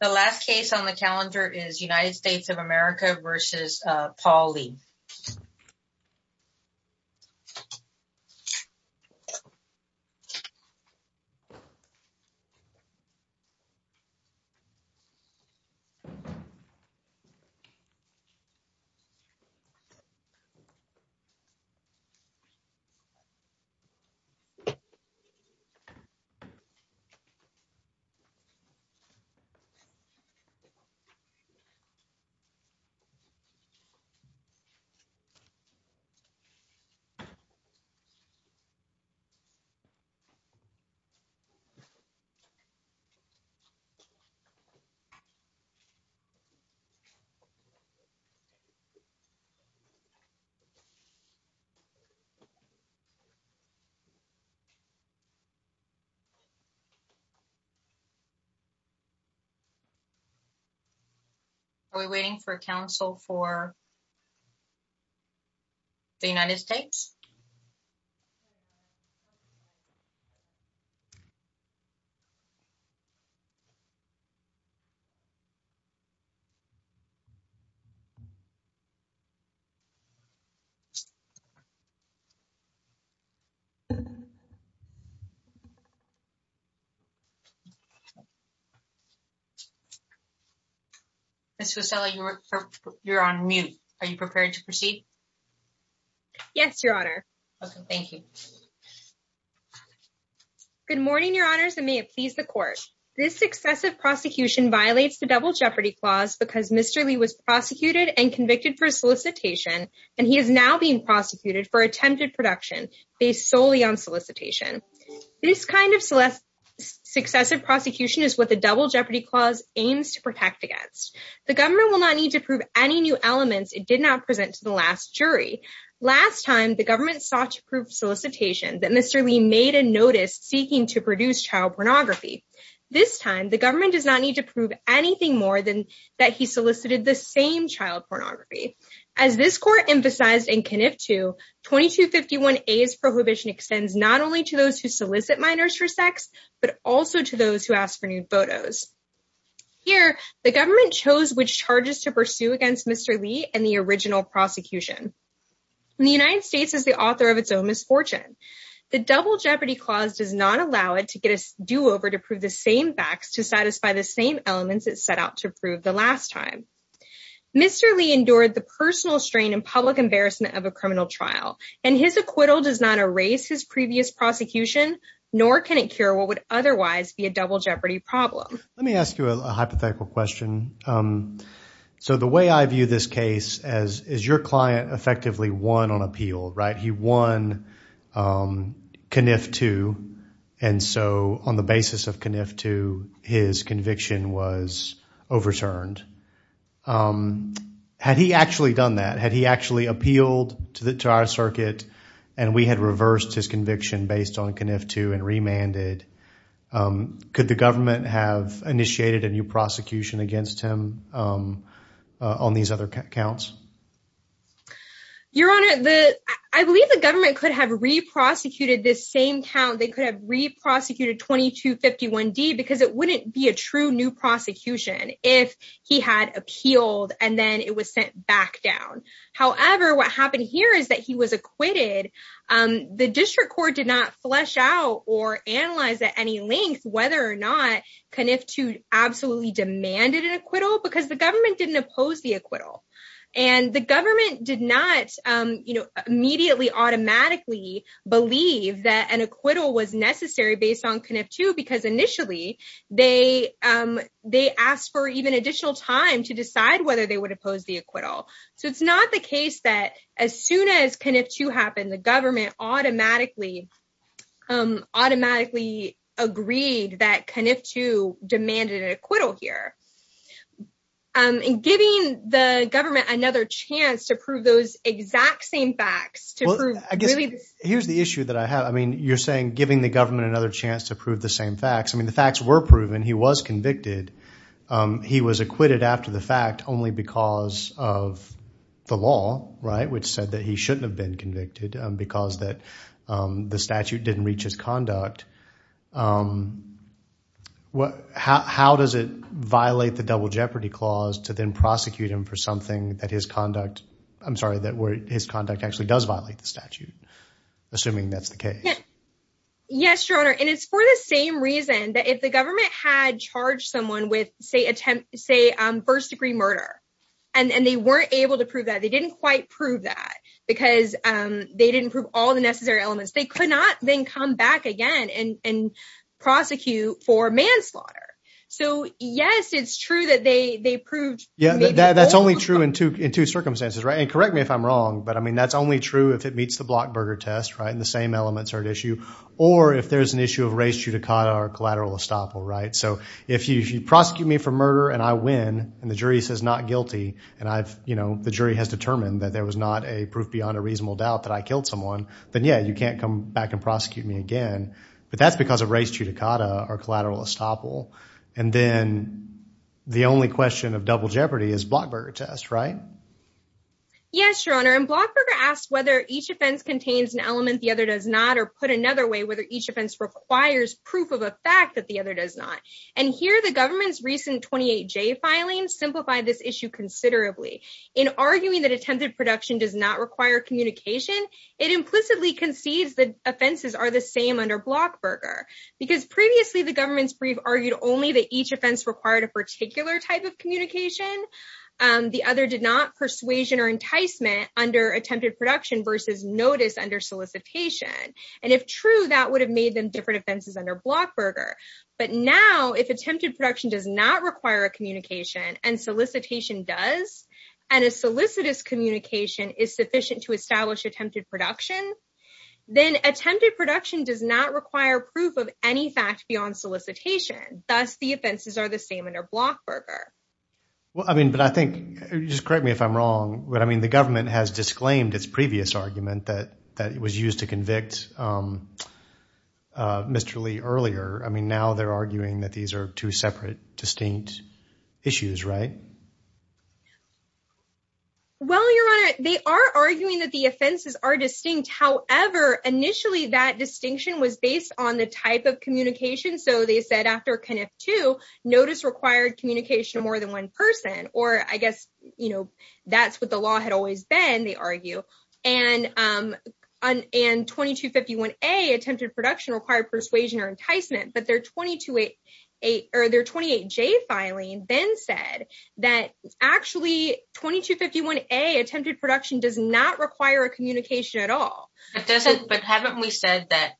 The last case on the calendar is United States of America v. Paul Lee. The last case on the calendar is United States of America v. Paul Lee. Are we waiting for counsel for the United States? Ms. Rosella, you're on mute. Are you prepared to proceed? Yes, Your Honor. Okay, thank you. Good morning, Your Honors, and may it please the Court. This successive prosecution violates the Double Jeopardy Clause because Mr. Lee was prosecuted and convicted for solicitation, and he is now being prosecuted for attempted production based solely on solicitation. This kind of successive prosecution is what the Double Jeopardy Clause aims to protect against. The government will not need to prove any new elements it did not present to the last jury. Last time, the government sought to prove solicitation that Mr. Lee made a notice seeking to produce child pornography. This time, the government does not need to prove anything more than that he solicited the same child pornography. As this Court emphasized in Kniff 2, 2251A's prohibition extends not only to those who solicit minors for sex, but also to those who ask for nude photos. Here, the government chose which charges to pursue against Mr. Lee and the original prosecution. The United States is the author of its own misfortune. The Double Jeopardy Clause does not allow it to get a do-over to prove the same facts to satisfy the same elements it set out to prove the last time. Mr. Lee endured the personal strain and public embarrassment of a criminal trial, and his acquittal does not erase his previous prosecution, nor can it cure what would otherwise be a Double Jeopardy problem. Let me ask you a hypothetical question. So the way I view this case is your client effectively won on appeal, right? He won Kniff 2, and so on the basis of Kniff 2, his conviction was overturned. Had he actually done that, had he actually appealed to our circuit and we had reversed his conviction based on Kniff 2 and remanded, could the government have initiated a new prosecution against him on these other counts? Your Honor, I believe the government could have re-prosecuted this same count. They could have re-prosecuted 2251D because it wouldn't be a true new prosecution if he had appealed and then it was sent back down. However, what happened here is that he was acquitted. The district court did not flesh out or analyze at any length whether or not Kniff 2 absolutely demanded an acquittal because the government didn't oppose the acquittal. And the government did not immediately automatically believe that an acquittal was necessary based on Kniff 2 because initially they asked for even additional time to decide whether they would oppose the acquittal. So it's not the case that as soon as Kniff 2 happened, the government automatically agreed that Kniff 2 demanded an acquittal here. And giving the government another chance to prove those exact same facts... Here's the issue that I have. I mean, you're saying giving the government another chance to prove the same facts. I mean, the facts were proven. He was convicted. He was acquitted after the fact only because of the law, right, which said that he shouldn't have been convicted because the statute didn't reach his conduct. How does it violate the double jeopardy clause to then prosecute him for something that his conduct... I'm sorry, that his conduct actually does violate the statute, assuming that's the case? Yes, Your Honor, and it's for the same reason that if the government had charged someone with, say, first degree murder, and they weren't able to prove that, they didn't quite prove that because they didn't prove all the necessary elements. They could not then come back again and prosecute for manslaughter. So yes, it's true that they proved... Yeah, that's only true in two circumstances, right? And correct me if I'm wrong, but I mean, that's only true if it meets the Blockburger test, right, and the same elements are at issue, or if there's an issue of res judicata or collateral estoppel, right? So if you prosecute me for murder and I win, and the jury says not guilty, and the jury has determined that there was not a proof beyond a reasonable doubt that I killed someone, then yeah, you can't come back and prosecute me again, but that's because of res judicata or collateral estoppel. And then the only question of double jeopardy is Blockburger test, right? Yes, Your Honor, and Blockburger asks whether each offense contains an element the other does not, or put another way, whether each offense requires proof of a fact that the other does not. And here the government's recent 28J filing simplified this issue considerably. In arguing that attempted production does not require communication, it implicitly concedes that offenses are the same under Blockburger, because previously the government's brief argued only that each offense required a particular type of communication. The other did not, persuasion or enticement under attempted production versus notice under solicitation. And if true, that would have made them different offenses under Blockburger. But now, if attempted production does not require a communication, and solicitation does, and a solicitous communication is sufficient to establish attempted production, then attempted production does not require proof of any fact beyond solicitation. Thus, the offenses are the same under Blockburger. Well, I mean, but I think, just correct me if I'm wrong, but I mean, the government has disclaimed its previous argument that it was used to convict Mr. Lee earlier. I mean, now they're arguing that these are two separate, distinct issues, right? Well, Your Honor, they are arguing that the offenses are distinct. However, initially, that distinction was based on the type of communication. So they said after CONIF 2, notice required communication of more than one person, or I guess, you know, that's what the law had always been, they argue. And 2251A, attempted production required persuasion or enticement, but their 28J filing then said that actually 2251A, attempted production does not require a communication at all. But haven't we said that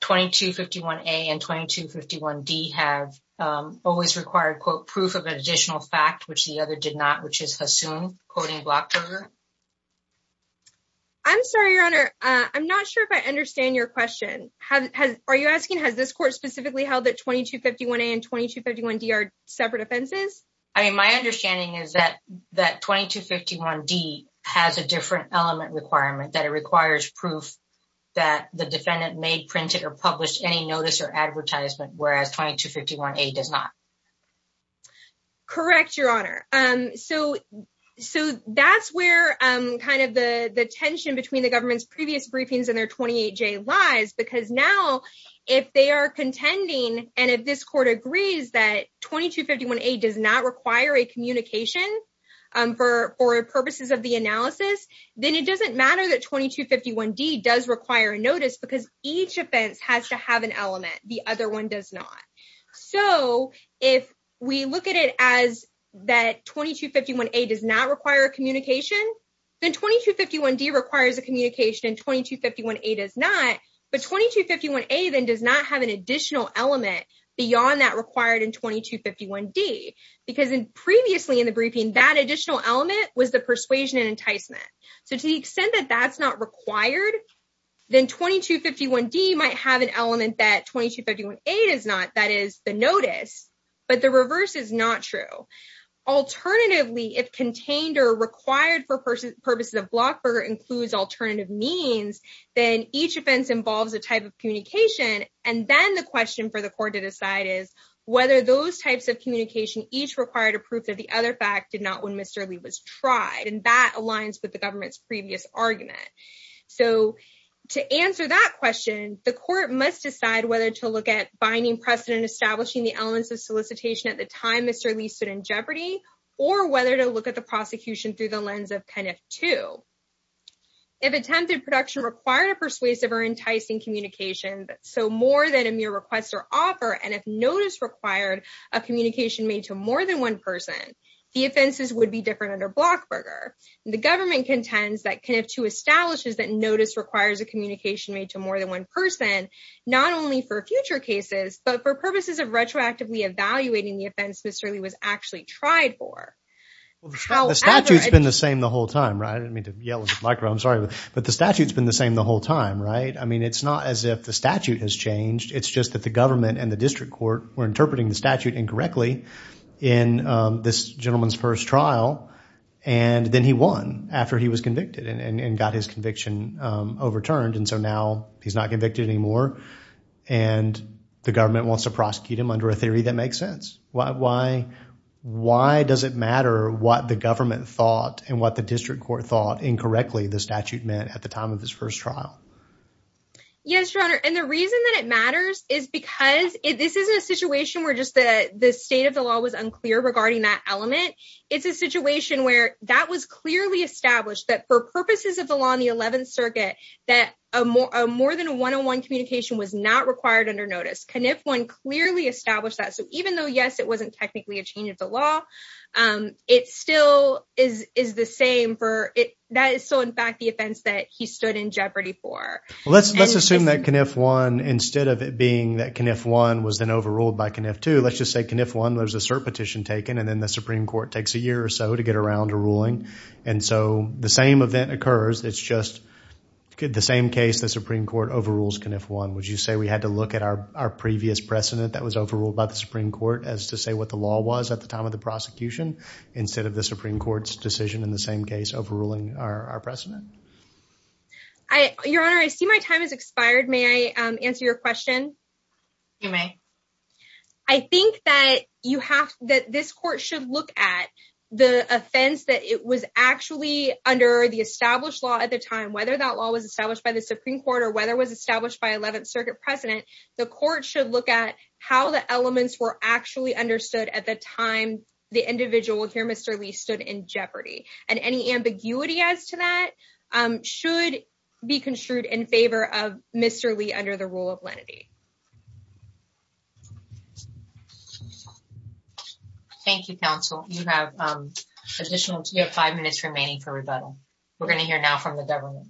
2251A and 2251D have always required, quote, proof of an additional fact, which the other did not, which is Hassoun, quoting Blockburger? I'm sorry, Your Honor, I'm not sure if I understand your question. Are you asking, has this court specifically held that 2251A and 2251D are separate offenses? I mean, my understanding is that 2251D has a different element requirement, that it requires proof that the defendant made, printed, or published any notice or advertisement, whereas 2251A does not. Correct, Your Honor. So that's where kind of the tension between the government's previous briefings and their 28J lies, because now, if they are contending, and if this court agrees that 2251A does not require a communication for purposes of the analysis, then it doesn't matter that 2251D does require a notice because each offense has to have an element, the other one does not. So if we look at it as that 2251A does not require a communication, then 2251D requires a communication and 2251A does not, but 2251A then does not have an additional element beyond that required in 2251D, because previously in the briefing, that additional element was the persuasion and enticement. So to the extent that that's not required, then 2251D might have an element that 2251A does not, that is the notice, but the reverse is not true. Alternatively, if contained or required for purposes of Blockburger includes alternative means, then each offense involves a type of communication, and then the question for the court to decide is whether those types of communication each required a proof that the other fact did not when Mr. Lee was tried, and that aligns with the government's previous argument. So to answer that question, the court must decide whether to look at binding precedent establishing the elements of solicitation at the time Mr. Lee stood in jeopardy, or whether to look at the prosecution through the lens of CUNF II. If attempted production required a persuasive or enticing communication, so more than a mere request or offer, and if notice required a communication made to more than one person, the offenses would be different under Blockburger. The government contends that CUNF II establishes that notice requires a communication made to more than one person, not only for future cases, but for purposes of retroactively evaluating the offense Mr. Lee was actually tried for. The statute's been the same the whole time, right? I didn't mean to yell at the microphone. I'm sorry, but the statute's been the same the whole time, right? I mean, it's not as if the statute has changed. It's just that the government and the district court were interpreting the statute incorrectly in this gentleman's first trial, and then he won after he was convicted and got his conviction overturned. And so now he's not convicted anymore, and the government wants to prosecute him under a theory that makes sense. Why does it matter what the government thought and what the district court thought incorrectly the statute meant at the time of his first trial? Yes, Your Honor. And the reason that it matters is because this isn't a situation where just the state of the law was unclear regarding that element. It's a situation where that was clearly established that for purposes of the law in the 11th Circuit that more than a one-on-one communication was not required under notice. CUNF I clearly established that. So even though, yes, it wasn't technically a change of the law, it still is the same for – that is still, in fact, the offense that he stood in jeopardy for. Let's assume that CUNF I, instead of it being that CUNF I was then overruled by CUNF II, let's just say CUNF I, there's a cert petition taken, and then the Supreme Court takes a year or so to get around a ruling. And so the same event occurs. It's just the same case. The Supreme Court overrules CUNF I. Would you say we had to look at our previous precedent that was overruled by the Supreme Court as to say what the law was at the time of the prosecution instead of the Supreme Court's decision in the same case overruling our precedent? Your Honor, I see my time has expired. May I answer your question? You may. I think that you have – that this court should look at the offense that it was actually under the established law at the time. Whether that law was established by the Supreme Court or whether it was established by 11th Circuit precedent, the court should look at how the elements were actually understood at the time the individual here, Mr. Lee, stood in jeopardy. And any ambiguity as to that should be construed in favor of Mr. Lee under the rule of lenity. Thank you, counsel. You have additional – you have five minutes remaining for rebuttal. We're going to hear now from the government.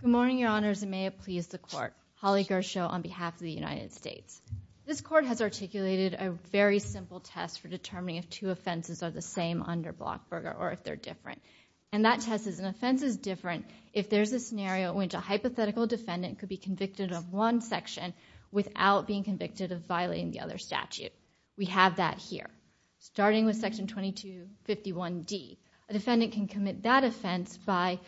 Good morning, Your Honors, and may it please the court. Holly Gershow on behalf of the United States. This court has articulated a very simple test for determining if two offenses are the same under Blockburger or if they're different. And that test is an offense is different if there's a scenario in which a hypothetical defendant could be convicted of one section without being convicted of violating the other statute. We have that here, starting with Section 2251D. A defendant can commit that offense by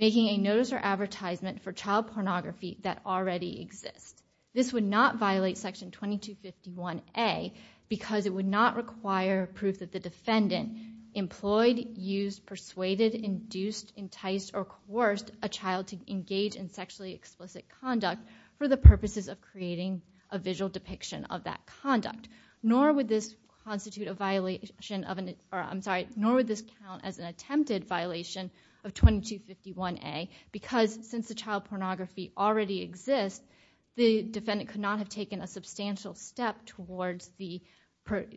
making a notice or advertisement for child pornography that already exists. This would not violate Section 2251A because it would not require proof that the defendant employed, used, persuaded, induced, enticed, or coerced a child to engage in sexually explicit conduct for the purposes of creating a visual depiction of that conduct. Nor would this constitute a violation of – I'm sorry. Nor would this count as an attempted violation of 2251A because since the child pornography already exists, the defendant could not have taken a substantial step towards the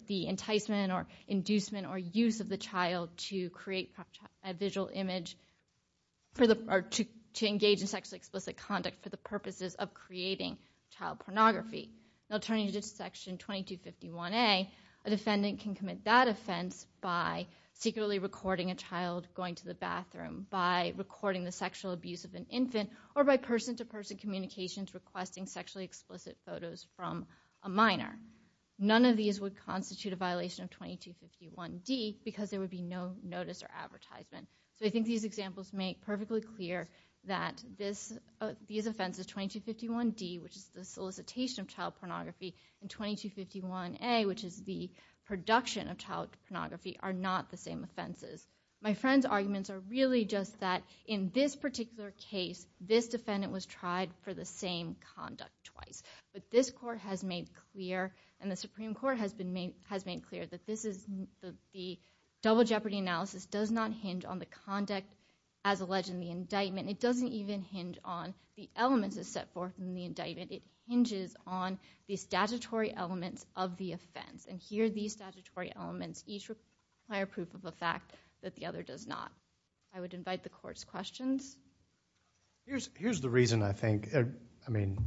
enticement or inducement or use of the child to create a visual image for the – or to engage in sexually explicit conduct for the purposes of creating child pornography. Now turning to Section 2251A, a defendant can commit that offense by secretly recording a child going to the bathroom, by recording the sexual abuse of an infant, or by person-to-person communications requesting sexually explicit photos from a minor. None of these would constitute a violation of 2251D because there would be no notice or advertisement. So I think these examples make perfectly clear that these offenses, 2251D, which is the solicitation of child pornography, and 2251A, which is the production of child pornography, are not the same offenses. My friend's arguments are really just that in this particular case, this defendant was tried for the same conduct twice. But this Court has made clear, and the Supreme Court has made clear, that this is – the double jeopardy analysis does not hinge on the conduct as alleged in the indictment. It doesn't even hinge on the elements as set forth in the indictment. It hinges on the statutory elements of the offense. And here, these statutory elements each require proof of the fact that the other does not. I would invite the Court's questions. Here's the reason I think – I mean,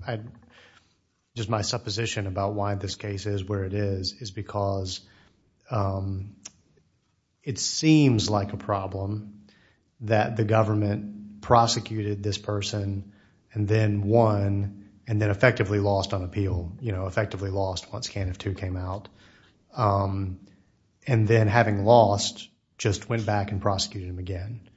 just my supposition about why this case is where it is, is because it seems like a problem that the government prosecuted this person, and then won, and then effectively lost on appeal. You know, effectively lost once CANF II came out. And then having lost, just went back and prosecuted him again.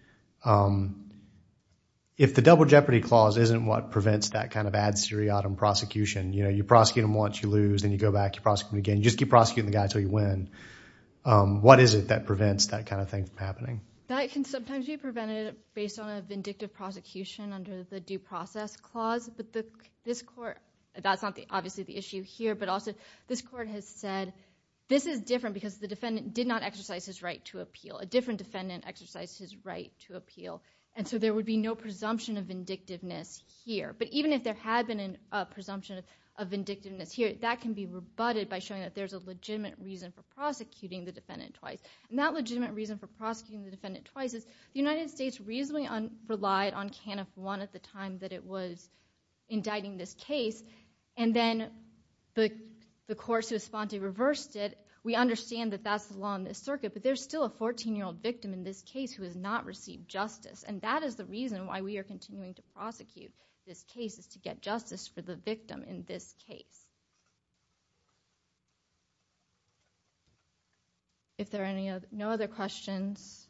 If the double jeopardy clause isn't what prevents that kind of ad seriatim prosecution, you know, you prosecute him once, you lose, then you go back, you prosecute him again. You just keep prosecuting the guy until you win. What is it that prevents that kind of thing from happening? That can sometimes be prevented based on a vindictive prosecution under the due process clause. But this Court – that's not obviously the issue here. But also, this Court has said this is different because the defendant did not exercise his right to appeal. A different defendant exercised his right to appeal. And so there would be no presumption of vindictiveness here. But even if there had been a presumption of vindictiveness here, that can be rebutted by showing that there's a legitimate reason for prosecuting the defendant twice. And that legitimate reason for prosecuting the defendant twice is, the United States reasonably relied on CANF I at the time that it was indicting this case, and then the courts who responded reversed it. So we understand that that's the law in this circuit, but there's still a 14-year-old victim in this case who has not received justice. And that is the reason why we are continuing to prosecute this case, is to get justice for the victim in this case. If there are no other questions,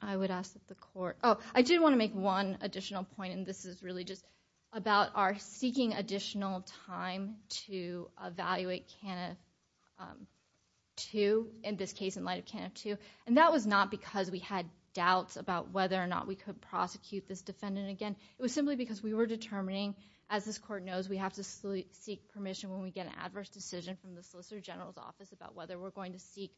I would ask that the Court – oh, I did want to make one additional point, and this is really just about our seeking additional time to evaluate CANF II, in this case, in light of CANF II. And that was not because we had doubts about whether or not we could prosecute this defendant again. It was simply because we were determining, as this Court knows, we have to seek permission when we get an adverse decision from the Solicitor General's office about whether we're going to seek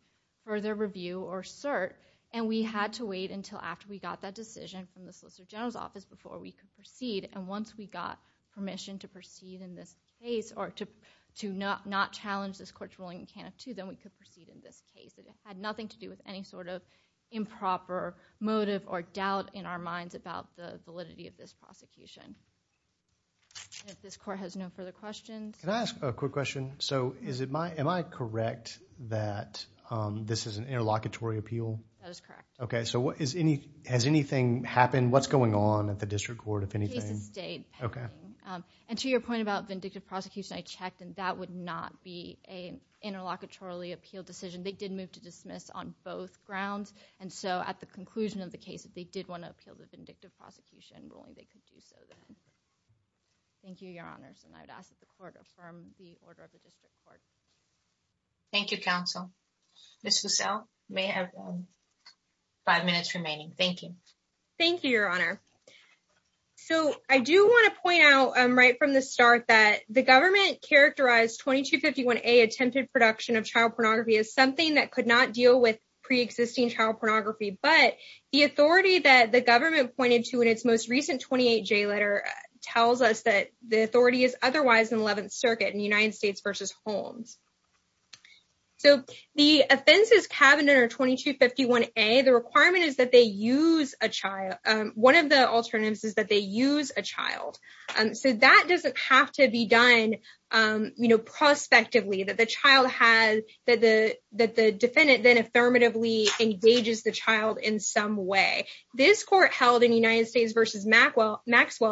further review or cert. And we had to wait until after we got that decision from the Solicitor General's office before we could proceed. And once we got permission to proceed in this case, or to not challenge this Court's ruling in CANF II, then we could proceed in this case. It had nothing to do with any sort of improper motive or doubt in our minds about the validity of this prosecution. If this Court has no further questions. Can I ask a quick question? So, am I correct that this is an interlocutory appeal? That is correct. Okay, so has anything happened? And what's going on at the District Court, if anything? The case has stayed pending. Okay. And to your point about vindictive prosecution, I checked, and that would not be an interlocutory appeal decision. They did move to dismiss on both grounds. And so, at the conclusion of the case, if they did want to appeal the vindictive prosecution ruling, they could do so then. Thank you, Your Honors. And I would ask that the Court affirm the order of the District Court. Thank you, Counsel. Ms. Fussell, you may have five minutes remaining. Thank you. Thank you, Your Honor. So, I do want to point out, right from the start, that the government characterized 2251A, attempted production of child pornography, as something that could not deal with preexisting child pornography. But the authority that the government pointed to in its most recent 28J letter tells us that the authority is otherwise in the 11th Circuit, in the United States v. Holmes. So, the offenses cabineted under 2251A, the requirement is that they use a child. One of the alternatives is that they use a child. So, that doesn't have to be done prospectively, that the defendant then affirmatively engages the child in some way. This Court held in United States v. Maxwell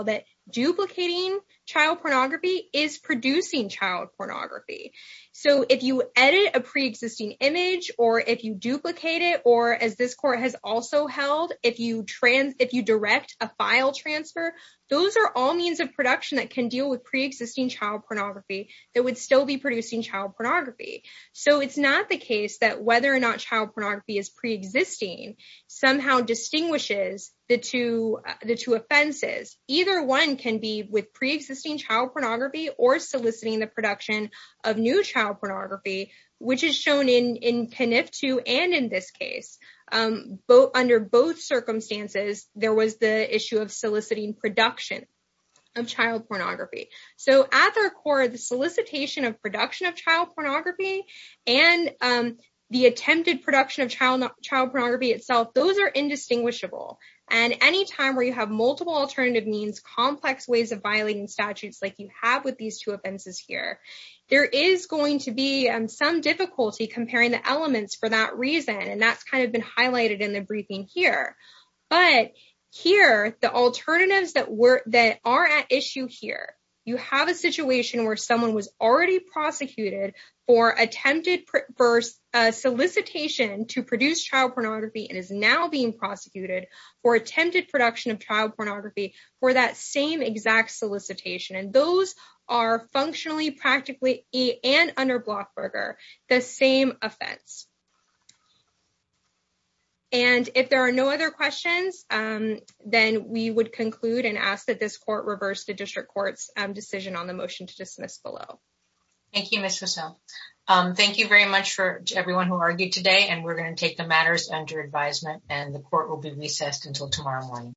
that duplicating child pornography is producing child pornography. So, if you edit a preexisting image, or if you duplicate it, or as this Court has also held, if you direct a file transfer, those are all means of production that can deal with preexisting child pornography that would still be producing child pornography. So, it's not the case that whether or not child pornography is preexisting somehow distinguishes the two offenses. Either one can be with preexisting child pornography or soliciting the production of new child pornography, which is shown in PNF 2 and in this case. Under both circumstances, there was the issue of soliciting production of child pornography. So, at their core, the solicitation of production of child pornography and the attempted production of child pornography itself, those are indistinguishable. And any time where you have multiple alternative means, complex ways of violating statutes like you have with these two offenses here, there is going to be some difficulty comparing the elements for that reason. And that's kind of been highlighted in the briefing here. But here, the alternatives that are at issue here, you have a situation where someone was already prosecuted for attempted solicitation to produce child pornography and is now being prosecuted for attempted production of child pornography for that same exact solicitation. And those are functionally, practically, and under Blockberger, the same offense. And if there are no other questions, then we would conclude and ask that this court reverse the district court's decision on the motion to dismiss below. Thank you, Ms. Fussell. Thank you very much for everyone who argued today. And we're going to take the matters under advisement. And the court will be recessed until tomorrow morning.